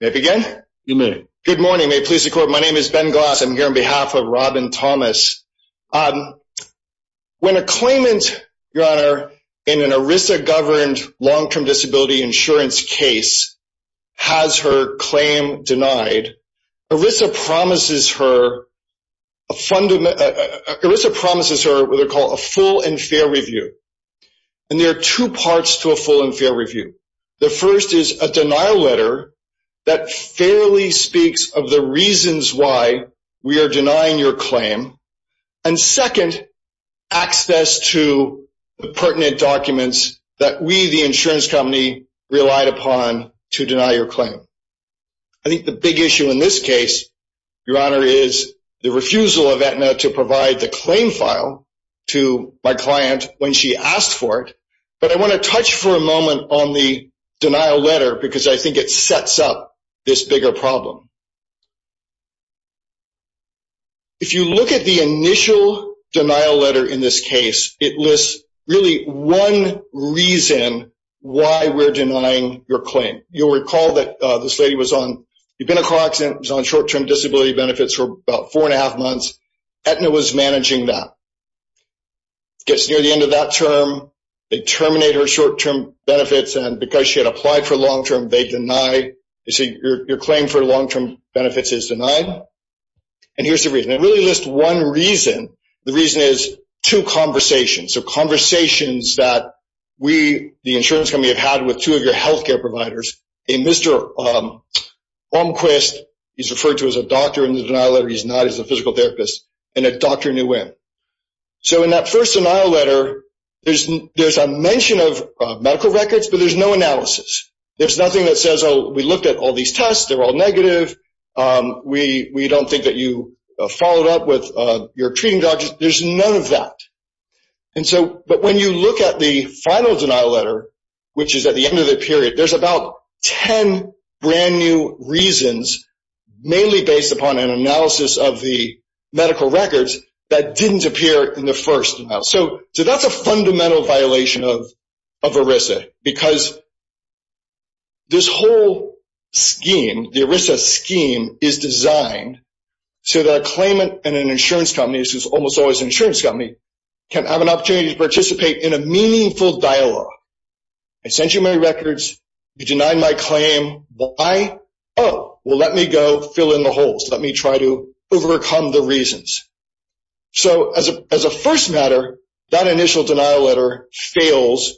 May I begin? You may. Good morning, may it please the court, my name is Ben Goss. I'm here on behalf of Robin Thomas. When a claimant, your honor, in an ERISA-governed long-term disability insurance case has her claim denied, ERISA promises her a fundamental, ERISA promises her what they call a full and fair review. And there are two parts to a full and fair review. The first is a denial letter that fairly speaks of the reasons why we are denying your claim. And second, access to the pertinent documents that we, the insurance company, relied upon to deny your claim. I think the big issue in this case, your honor, is the refusal of Aetna to provide the claim file to my client when she asked for it. But I want to touch for a moment on the denial letter, because I think it sets up this bigger problem. If you look at the initial denial letter in this case, it lists really one reason why we're denying your claim. You'll recall that this lady was on, you've been a car accident, was on short-term disability benefits for about four and a half months. Aetna was managing that. Gets near the end of that term, they terminate her short-term benefits. And because she had applied for long-term, they deny. You see, your claim for long-term benefits is denied. And here's the reason. It really lists one reason. The reason is two conversations. So conversations that we, the insurance company, have had with two of your health care providers. And Mr. Holmquist is referred to as a doctor in the denial letter. He's not. He's a physical therapist. And a doctor knew him. So in that first denial letter, there's a mention of medical records, but there's no analysis. There's nothing that says, we looked at all these tests. They're all negative. We don't think that you followed up with your treating doctors. There's none of that. But when you look at the final denial letter, which is at the end of the period, there's about 10 brand new reasons, mainly based upon an analysis of the medical records, that didn't appear in the first denial. So that's a fundamental violation of ERISA. Because this whole scheme, the ERISA scheme, is designed so that a claimant and an insurance company, which is almost always an insurance company, can have an opportunity to participate in a meaningful dialogue. I sent you my records. You denied my claim. Why? Oh, let me go fill in the holes. Let me try to overcome the reasons. So as a first matter, that initial denial letter fails.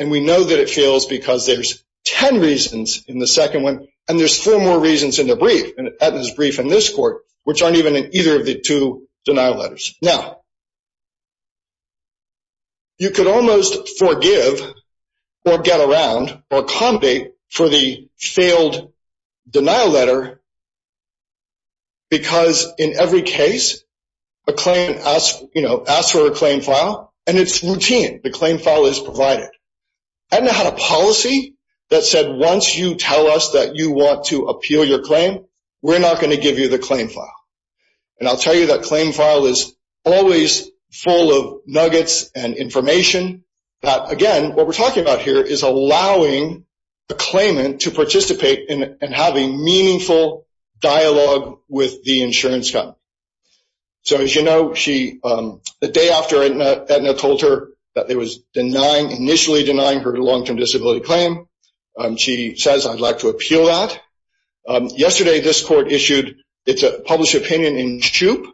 And we know that it fails because there's 10 reasons in the second one. And there's four more reasons in the brief. And that is brief in this court, which aren't even in either of the two denial letters. Now, you could almost forgive or get around or accommodate for the failed denial letter. Because in every case, a claimant asks for a claim file. And it's routine. The claim file is provided. I haven't had a policy that said, once you tell us that you want to appeal your claim, we're not going to give you the claim file. And I'll tell you that claim file is always full of nuggets and information that, again, what we're talking about here is allowing the claimant to participate and have a meaningful dialogue with the insurance company. So as you know, the day after Edna told her that they were initially denying her long-term disability claim, she says, I'd like to appeal that. Yesterday, this court issued its published opinion in SHUIP,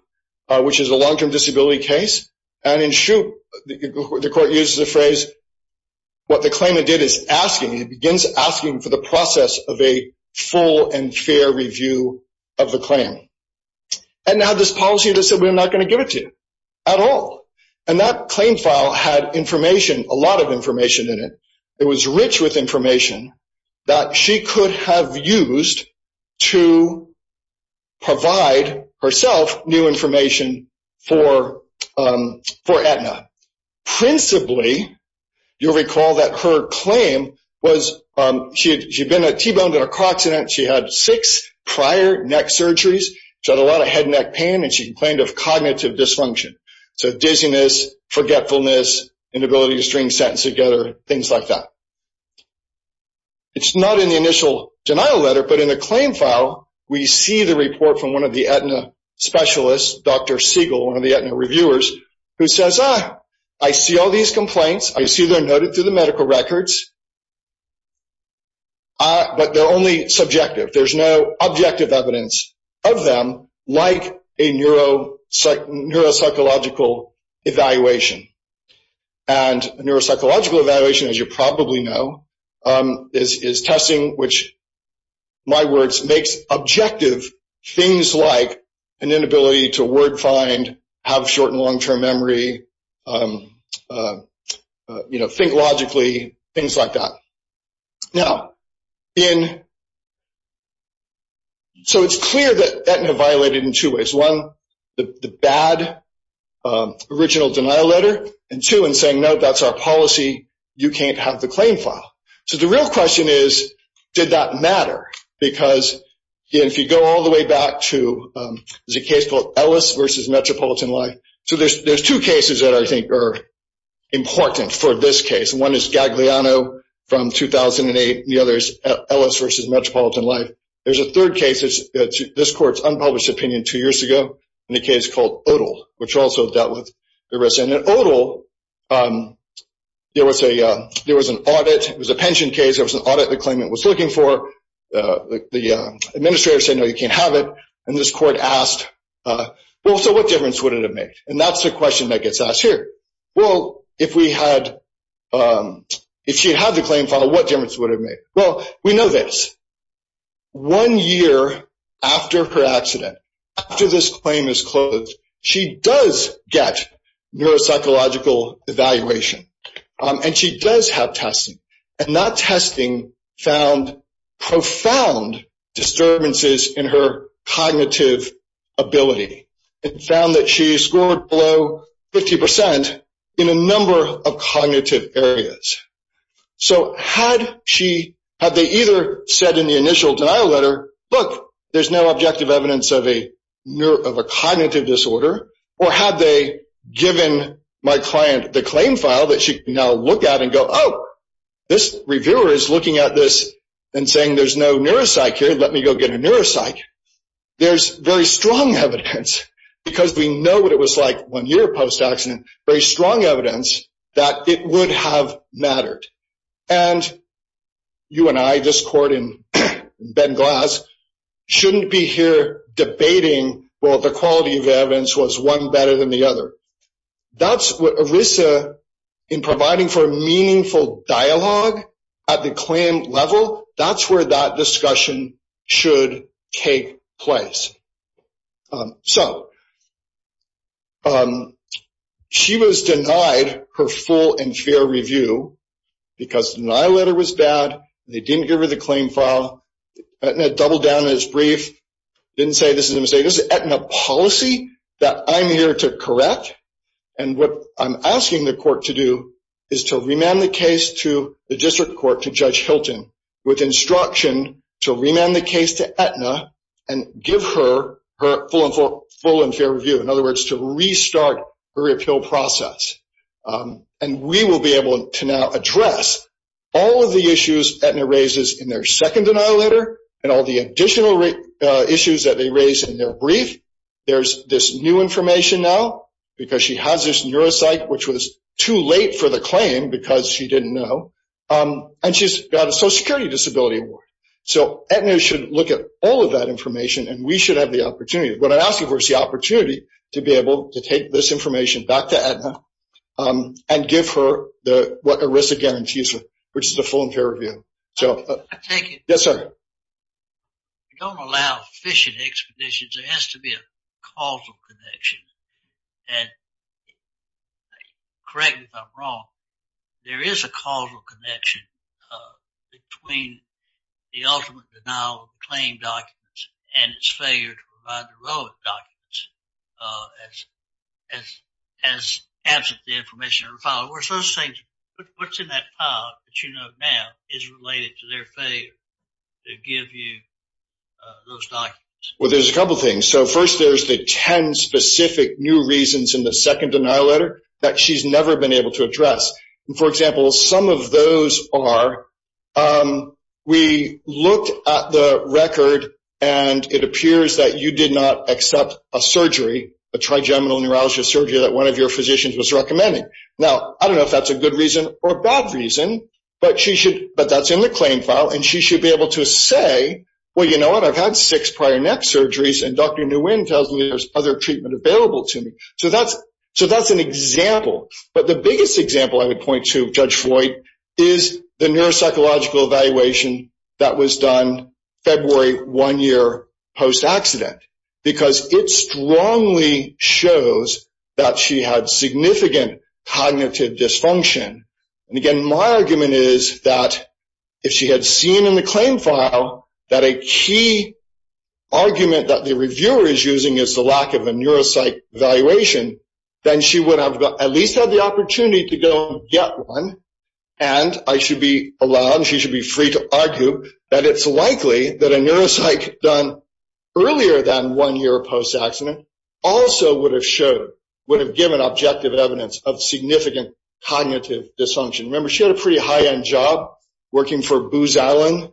which is a long-term disability case. And in SHUIP, the court uses the phrase, what the claimant did is asking. It begins asking for the process of a full and fair review of the claim. Edna had this policy that said, we're not going to give it to you, at all. And that claim file had information, a lot of information in it. It was rich with information that she could have used to provide herself new information for Edna. Principally, you'll recall that her claim was, she'd been T-boned in a car accident, she had six prior neck surgeries, she had a lot of head and neck pain, and she complained of cognitive dysfunction. So dizziness, forgetfulness, inability to string sentences together, things like that. It's not in the initial denial letter, but in the claim file, we see the report from one of the Edna specialists, Dr. Siegel, one of the Edna reviewers, who says, I see all these complaints, I see they're noted through the medical records, but they're only subjective. There's no objective evidence of them, like a neuropsychological evaluation. And a neuropsychological evaluation, as you probably know, is testing which, in my words, makes objective things like an inability to word find, have short and long-term memory, think logically, things like that. So it's clear that Edna violated in two ways. One, the bad original denial letter, and two, in saying, no, that's our policy, you can't have the claim file. So the real question is, did that matter? Because if you go all the way back to, there's a case called Ellis versus Metropolitan Life. So there's two cases that I think are important for this case. One is Gagliano from 2008, the other is Ellis versus Metropolitan Life. There's a third case, this court's unpublished opinion two years ago, in a case called Odle, which also dealt with the risk. And in Odle, there was an audit, it was a pension case, there was an audit the claimant was looking for. The administrator said, no, you can't have it. And this court asked, well, so what difference would it have made? And that's the question that gets asked here. Well, if she had the claim file, what difference would it have made? Well, we know this. One year after her accident, after this claim is closed, she does get neuropsychological evaluation, and she does have testing. And that testing found profound disturbances in her cognitive ability. It found that she scored below 50% in a number of cognitive areas. So had they either said in the initial denial letter, look, there's no objective evidence of a cognitive disorder, or had they given my client the claim file that she can now look at and go, oh, this reviewer is looking at this and saying there's no neuropsych here, let me go get a neuropsych. There's very strong evidence, because we know it was like one year post-accident, very strong evidence that it would have mattered. And you and I, this court in Ben Glass, shouldn't be here debating, well, the quality of the evidence was one better than the other. That's what ERISA, in providing for meaningful dialogue at the claim level, that's where that discussion should take place. So, she was denied her full and fair review because the denial letter was bad, they didn't give her the claim file, Aetna doubled down on its brief, didn't say this is a mistake. This is Aetna policy that I'm here to correct, and what I'm asking the court to do is to remand the case to the with instruction to remand the case to Aetna and give her her full and fair review. In other words, to restart her appeal process. And we will be able to now address all of the issues Aetna raises in their second denial letter and all the additional issues that they raise in their brief. There's this new information now, because she has this neuropsych, which was too late for the claim because she didn't know, and she's got a social security disability award. So, Aetna should look at all of that information and we should have the opportunity. What I'm asking for is the opportunity to be able to take this information back to Aetna and give her what ERISA guarantees her, which is a full and fair review. I take it you don't allow fishing expeditions, there has to be a causal connection. And correct me if I'm wrong, there is a causal connection between the ultimate denial of the claim documents and its failure to provide the relevant documents as absent the information in the file. What's in that file that you know now is related to their failure to give you those documents? Well, there's a couple things. So first, there's the 10 specific new reasons in the second denial letter that she's never been able to address. For example, some of those are, we looked at the record and it appears that you did not accept a surgery, a trigeminal neuralgia surgery that one of your physicians was recommending. Now, I don't know if that's a good reason or a bad reason, but that's in the claim file and she should be able to say, well, you know what, I've had six prior neck surgeries and Dr. Nguyen tells me there's other treatment available to me. So that's an example. But the biggest example I would point to, Judge Floyd, is the neuropsychological evaluation that was done February one year post-accident, because it strongly shows that she had significant cognitive dysfunction. And again, my argument is that if she had seen in the claim file that a key argument that the reviewer is using is the lack of a neuropsych evaluation, then she would have at least had the opportunity to go and get one. And I should be allowed, and she should be free to argue, that it's likely that a neuropsych done earlier than one year post-accident also would have showed, would have given objective evidence of significant cognitive dysfunction. Remember, she had a pretty high-end job working for Booz Allen.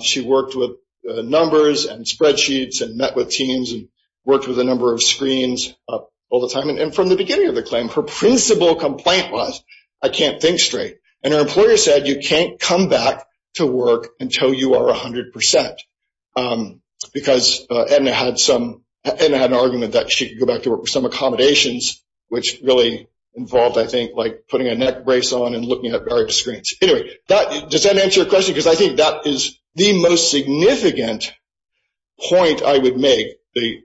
She worked with numbers and spreadsheets and met with teams and worked with a number of screens all the time. And from the beginning of the claim, her principal complaint was, I can't think straight. And her employer said, you can't come back to work until you are 100 percent. Because Edna had an argument that she could go back to work for some accommodations, which really involved, I think, putting a neck brace on and looking at various screens. Anyway, does that answer your question? Because I think that is the most significant point I would make, the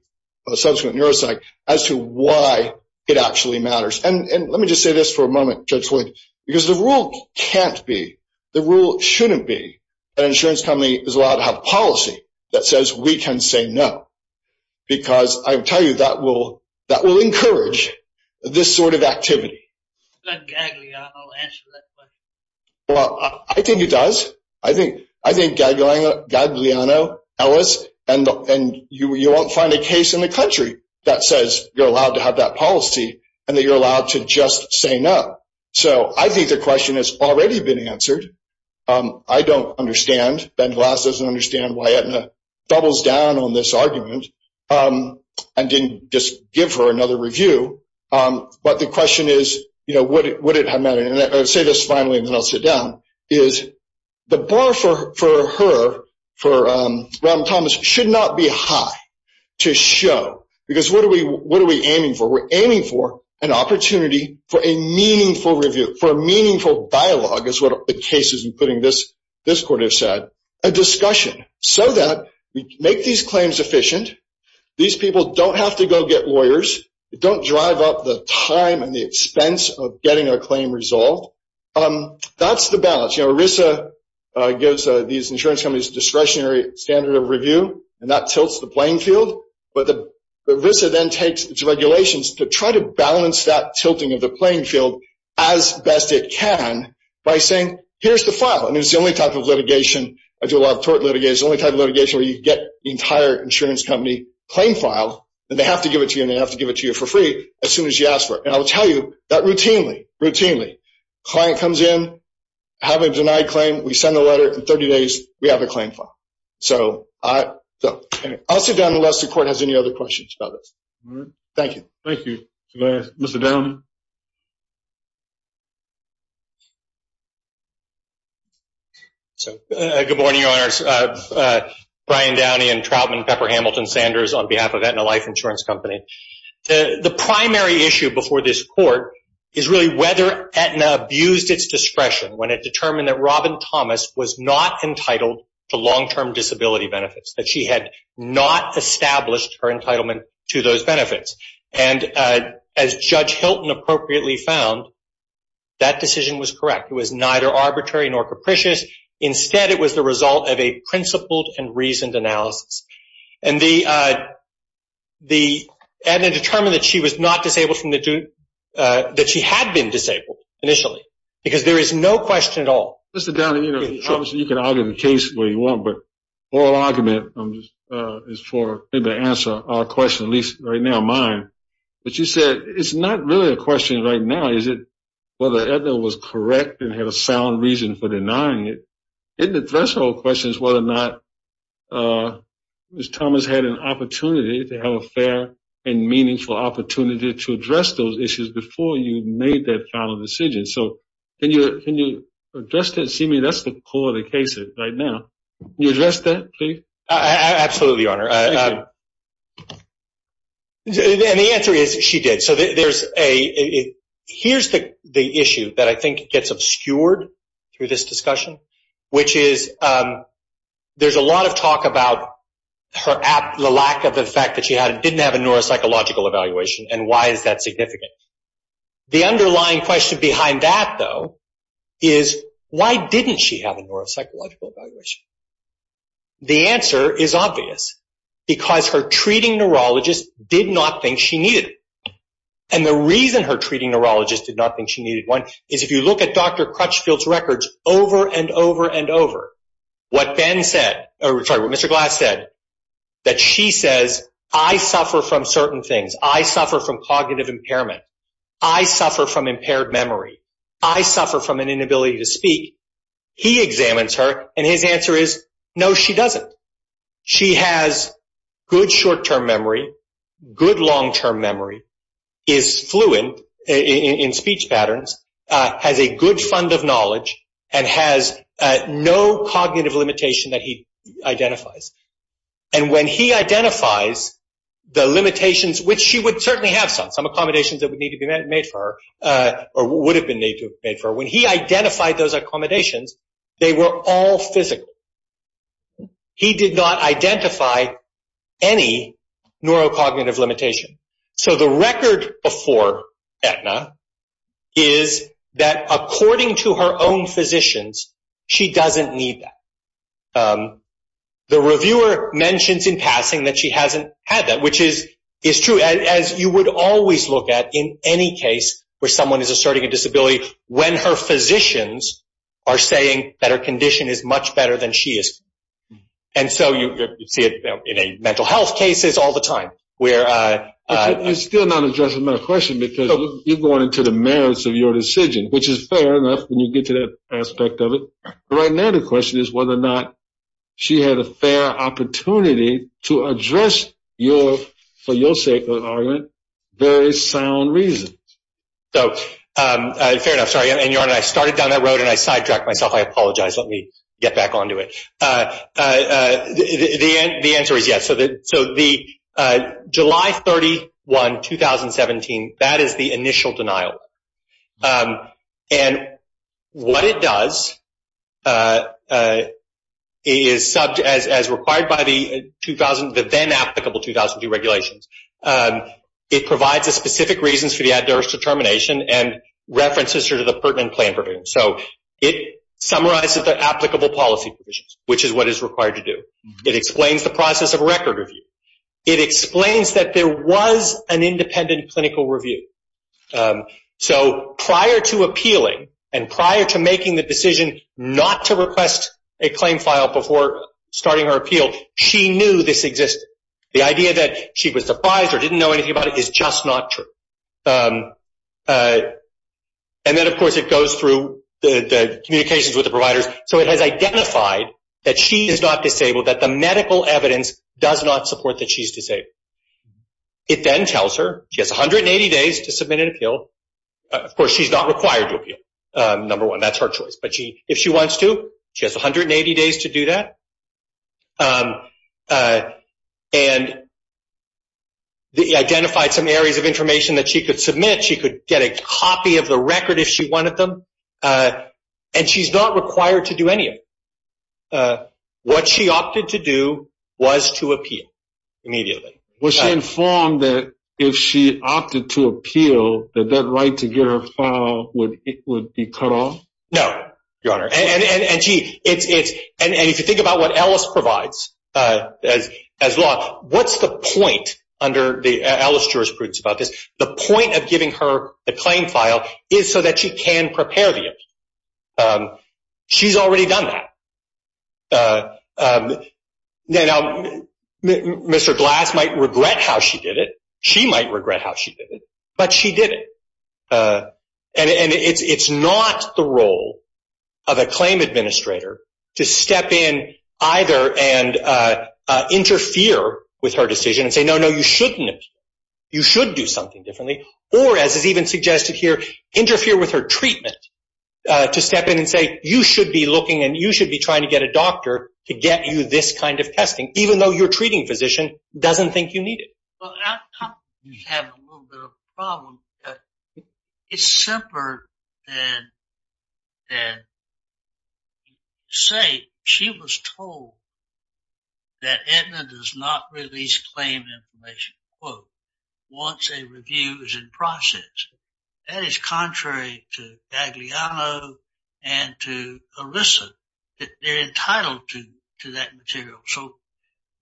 subsequent neuropsych, as to why it actually shouldn't be that an insurance company is allowed to have policy that says we can say no. Because I tell you, that will encourage this sort of activity. I think Gagliano will answer that question. Well, I think he does. I think Gagliano, Ellis, and you won't find a case in the country that says you're allowed to have that policy and that you're allowed to just say no. So I think the I don't understand. Ben Glass doesn't understand why Edna doubles down on this argument and didn't just give her another review. But the question is, you know, would it have mattered? And I'll say this finally, and then I'll sit down, is the bar for her, for Robin Thomas, should not be high to show. Because what are we aiming for? We're aiming for an opportunity for a meaningful review, for a meaningful dialogue, is what the cases including this court have said, a discussion, so that we make these claims efficient. These people don't have to go get lawyers. They don't drive up the time and the expense of getting a claim resolved. That's the balance. You know, ERISA gives these insurance companies a discretionary standard of review, and that tilts the playing field. But ERISA then takes its regulations to try to balance that tilting of playing field as best it can by saying, here's the file. And it's the only type of litigation, I do a lot of tort litigation, the only type of litigation where you get the entire insurance company claim file, and they have to give it to you, and they have to give it to you for free as soon as you ask for it. And I'll tell you that routinely, routinely, client comes in, have a denied claim, we send the letter, in 30 days we have a claim file. So I'll sit down unless the court has any other questions about this. Thank you. Thank you. Mr. Downey. So good morning, your honors. Brian Downey and Troutman Pepper Hamilton Sanders on behalf of Aetna Life Insurance Company. The primary issue before this court is really whether Aetna abused its discretion when it determined that Robin Thomas was not entitled to long-term disability benefits, that she had not established her entitlement to those benefits. And as Judge Hilton appropriately found, that decision was correct. It was neither arbitrary nor capricious. Instead, it was the result of a principled and reasoned analysis. And the Aetna determined that she was not disabled from the, that she had been disabled initially, because there is no question of disability. Mr. Downey, you know, obviously you can argue the case where you want, but oral argument is for, to answer our question, at least right now mine. But you said, it's not really a question right now. Is it whether Aetna was correct and had a sound reason for denying it? Isn't the threshold questions whether or not Ms. Thomas had an opportunity to have a fair and meaningful opportunity to address those issues before you made that final decision? So can you, can you address that and see me? That's the core of the case right now. Can you address that, please? Absolutely, Your Honor. And the answer is she did. So there's a, here's the issue that I think gets obscured through this discussion, which is there's a lot of talk about her, the lack of the fact that she didn't have a neuropsychological evaluation and why is that significant? The underlying question behind that though is why didn't she have a neuropsychological evaluation? The answer is obvious because her treating neurologist did not think she needed it. And the reason her treating neurologist did not think she needed one is if you look at Dr. Crutchfield's records over and over and over, what Ben said, sorry, what Mr. Glass said, that she says, I suffer from certain I suffer from an inability to speak. He examines her and his answer is no, she doesn't. She has good short-term memory, good long-term memory, is fluent in speech patterns, has a good fund of knowledge and has no cognitive limitation that he identifies. And when he identifies the limitations, which she would certainly have some, some accommodations that would need to be made for her or would have been made for her, when he identified those accommodations, they were all physical. He did not identify any neurocognitive limitation. So the record before Aetna is that according to her own physicians, she doesn't need that. The reviewer mentions in passing that she hasn't had that, which is true as you would always look at in any case where someone is asserting a disability, when her physicians are saying that her condition is much better than she is. And so you see it in a mental health cases all the time. We're still not addressing my question because you're going into the merits of your decision, which is fair enough. When you get to that aspect of it right now, the question is whether or not she had a fair opportunity to address your, for your sake of argument, very sound reasons. So fair enough. Sorry. And your Honor, I started down that road and I sidetracked myself. I apologize. Let me get back onto it. The answer is yes. So the July 31, 2017, that is the initial denial. And what it does is, as required by the 2000, the then applicable 2002 regulations, it provides a specific reasons for the adverse determination and references her to the pertinent plan provisions. So it summarizes the applicable policy provisions, which is what is required to do. It explains the process of record review. It explains that there was an independent clinical review. So prior to appealing and prior to making the decision not to request a claim file before starting her appeal, she knew this existed. The idea that she was surprised or didn't know anything about it is just not true. And then of course it goes through the communications with the providers. So it has identified that she is not disabled, that the medical evidence does not support that she's disabled. It then tells her she has 180 days to submit an appeal. Of course, she's not required to appeal, number one. That's her choice. But if she wants to, she has 180 days to do that. And it identified some areas of information that she could submit. She could get a copy of the record if she wanted them. And she's not required to do any of it. But what she opted to do was to appeal immediately. Was she informed that if she opted to appeal, that that right to get her file would be cut off? No, Your Honor. And if you think about what Alice provides as law, what's the point under the Alice jurisprudence about this? The point of giving her a claim file is so that she can prepare the appeal. She's already done that. Now, Mr. Glass might regret how she did it. She might regret how she did it. But she did it. And it's not the role of a claim administrator to step in either and interfere with her decision and say, no, no, you shouldn't appeal. You should do something differently. Or as is even suggested here, interfere with her treatment to step in and say, you should be looking and you should be trying to get a doctor to get you this kind of testing, even though your treating physician doesn't think you need it. Well, I think we have a little bit of a problem. It's simpler than say she was told that Aetna does not release claim information, quote, once a review is in process. That is contrary to Gagliano and to Alyssa. They're entitled to that material. So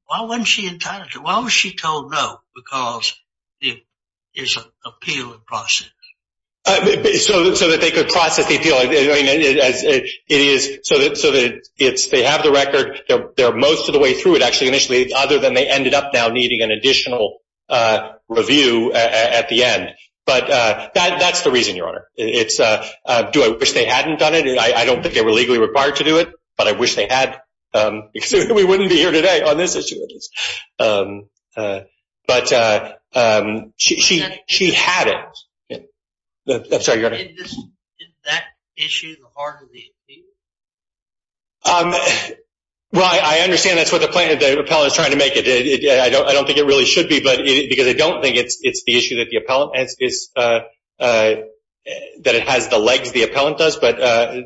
why wasn't she entitled to it? Why was she told no? Because there's an appeal in process. So that they could process the appeal. They have the record. They're most of the way through it, actually, initially, other than they ended up now needing an additional review at the end. But that's the reason, Your Honor. Do I wish they hadn't done it? I don't think they were legally required to do it, but I wish they had because we wouldn't be here today on this issue. But she had it. I'm sorry, Your Honor. Isn't that issue the heart of the appeal? Well, I understand that's what the plaintiff, the appellant is trying to make it. I don't think it really should be because I don't think it's the issue that the appellant has, that it has the legs the appellant does, but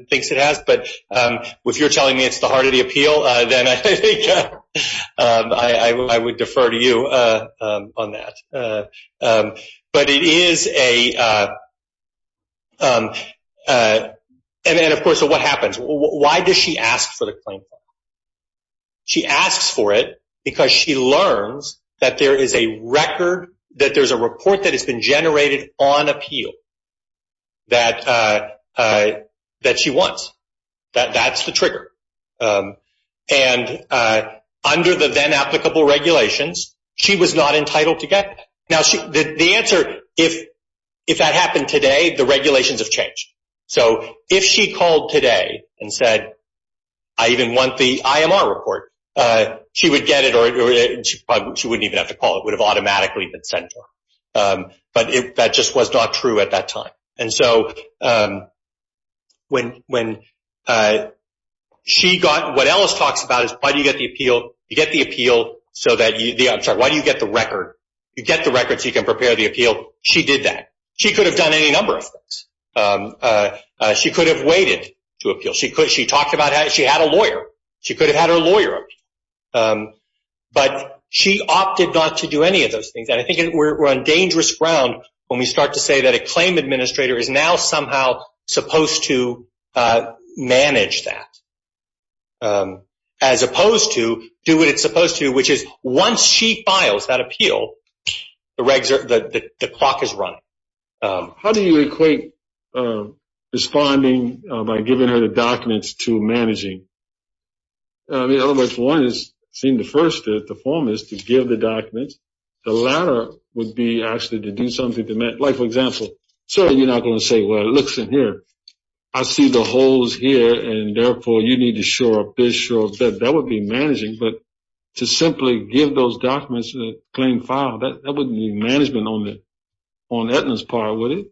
thinks it has. But if you're telling me it's the heart of the appeal, then I think I would defer to you on that. And then, of course, what happens? Why does she ask for the claim? She asks for it because she learns that there is a record, that there's a report that has been generated on appeal that she wants. That's the trigger. And under the then applicable regulations, she was not entitled to get it. Now, the answer, if that happened today, the regulations have changed. So if she called today and said, I even want the IMR report, she would get it or she wouldn't even have to call. It would have automatically been sent to her. But that just was not true at that time. And so when she got, what Ellis talks about is why do you get the appeal? You get the appeal so that you, I'm sorry, why do you get the record? You get the record so you can prepare the appeal. She did that. She could have done any number of things. She could have waited to appeal. She could, she talked about how she had a lawyer. She could have had her lawyer. But she opted not to do any of those things. And I think we're on dangerous ground when we start to say that a claim administrator is now somehow supposed to manage that. As opposed to do what it's supposed to, which is once she files that appeal, the clock is running. How do you equate responding by giving her the documents to managing? I mean, I don't know if one has seen the first or the foremost to give the documents. The latter would be actually to like, for example, sorry, you're not going to say, well, it looks in here. I see the holes here and therefore you need to shore up this, shore up that. That would be managing. But to simply give those documents a plain file, that wouldn't be management on the, on Edna's part, would it?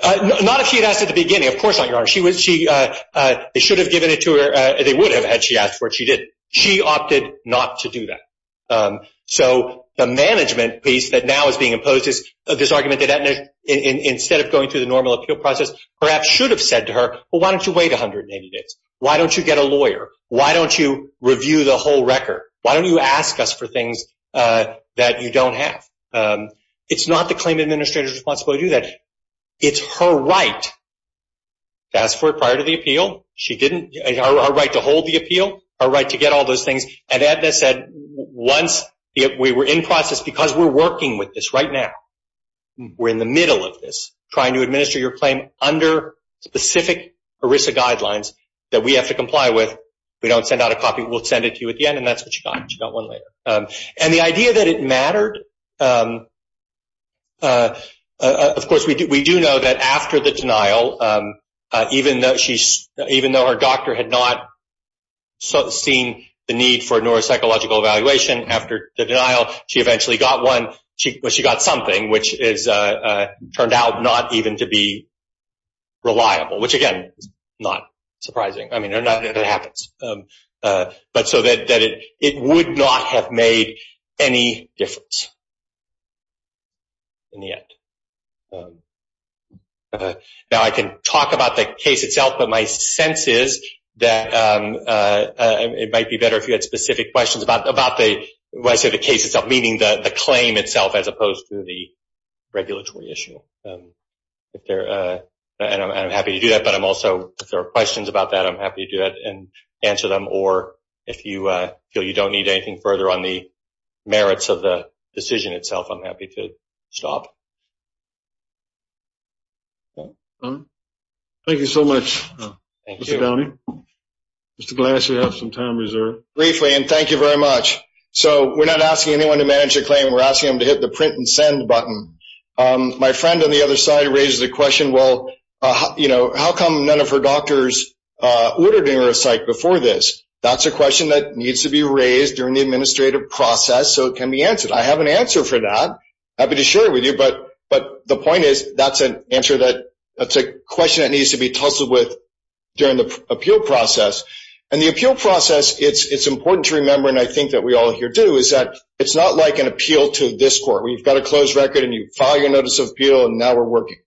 Not if she had asked at the beginning. Of course not, Your Honor. They should have given it to her. They would have had she asked for it. She did. She opted not to do that. So the management piece that now is being imposed is this argument that Edna, instead of going through the normal appeal process, perhaps should have said to her, well, why don't you wait 180 days? Why don't you get a lawyer? Why don't you review the whole record? Why don't you ask us for things that you don't have? It's not the claim administrator's responsibility to do that. It's her right to ask for it prior to the appeal. She didn't, her right to hold the appeal, her right to get all those things. And Edna said, once we were in process, because we're working with this right now, we're in the middle of this, trying to administer your claim under specific ERISA guidelines that we have to comply with. We don't send out a copy. We'll send it to you at the end. And that's what she got. She got one later. And the idea that it mattered, of course, we do know that after the denial, even though her doctor had not seen the need for a neuropsychological evaluation after the denial, she eventually got one. She got something, which turned out not even to be reliable, which again, not surprising. I mean, it happens. But so that it would not have made any difference in the end. Now I can talk about the case itself, but my sense is that it might be better if you had specific questions about the case itself, meaning the claim itself as opposed to the regulatory issue. And I'm happy to do that. But I'm also, if there are questions about that, I'm happy to do that and answer them. Or if you feel you don't need anything further on the merits of the decision itself, I'm happy to stop. All right. Thank you so much, Mr. Downey. Mr. Glass, you have some time reserved. Briefly, and thank you very much. So we're not asking anyone to manage a claim. We're asking them to hit the print and send button. My friend on the other side raised the question, well, how come none of her doctors ordered a neuropsych before this? That's a question that needs to be can be answered. I have an answer for that. Happy to share it with you. But the point is, that's an answer that's a question that needs to be tussled with during the appeal process. And the appeal process, it's important to remember, and I think that we all here do, is that it's not like an appeal to this court, where you've got a closed record and you file your notice of appeal, and now we're working.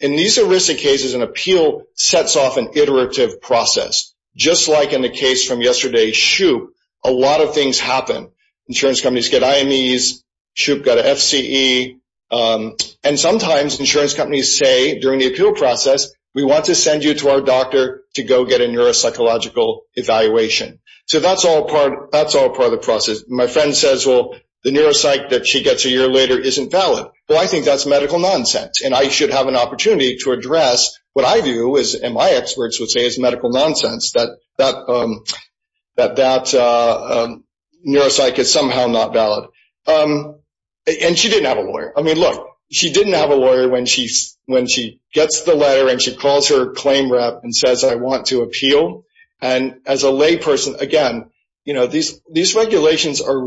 In these aristic cases, an appeal sets off an insurance companies get IMEs, SHUP got an FCE, and sometimes insurance companies say during the appeal process, we want to send you to our doctor to go get a neuropsychological evaluation. So that's all part of the process. My friend says, well, the neuropsych that she gets a year later isn't valid. Well, I think that's medical nonsense, and I should have an opportunity to address what my experts would say is medical nonsense, that that neuropsych is somehow not valid. And she didn't have a lawyer. I mean, look, she didn't have a lawyer when she gets the letter and she calls her claim rep and says, I want to appeal. And as a layperson, again, these regulations are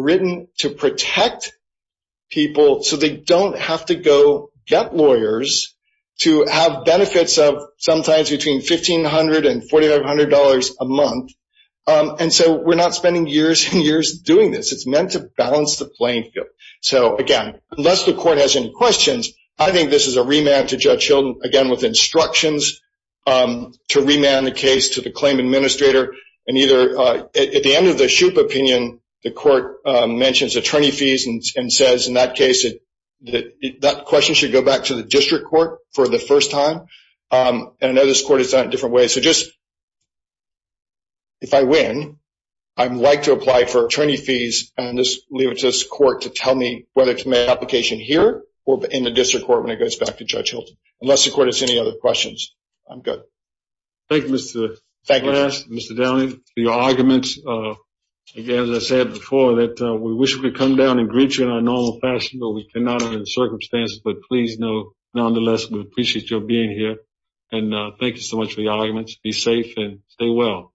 get lawyers to have benefits of sometimes between $1,500 and $4,500 a month. And so we're not spending years and years doing this. It's meant to balance the playing field. So again, unless the court has any questions, I think this is a remand to Judge Hilton, again, with instructions to remand the case to the claim administrator. And either at the end of the SHUP opinion, the court mentions attorney fees and says, in that case, that question should go back to the district court for the first time. And I know this court has done it a different way. So just, if I win, I'd like to apply for attorney fees and just leave it to this court to tell me whether it's my application here or in the district court when it goes back to Judge Hilton, unless the court has any other questions. I'm good. Thank you, Mr. Glass, Mr. Downing, for your arguments. Again, as I said before, that we wish we could come down and greet you in our normal fashion, but we cannot under the circumstances. But please know, nonetheless, we appreciate your being here. And thank you so much for your arguments. Be safe and stay well.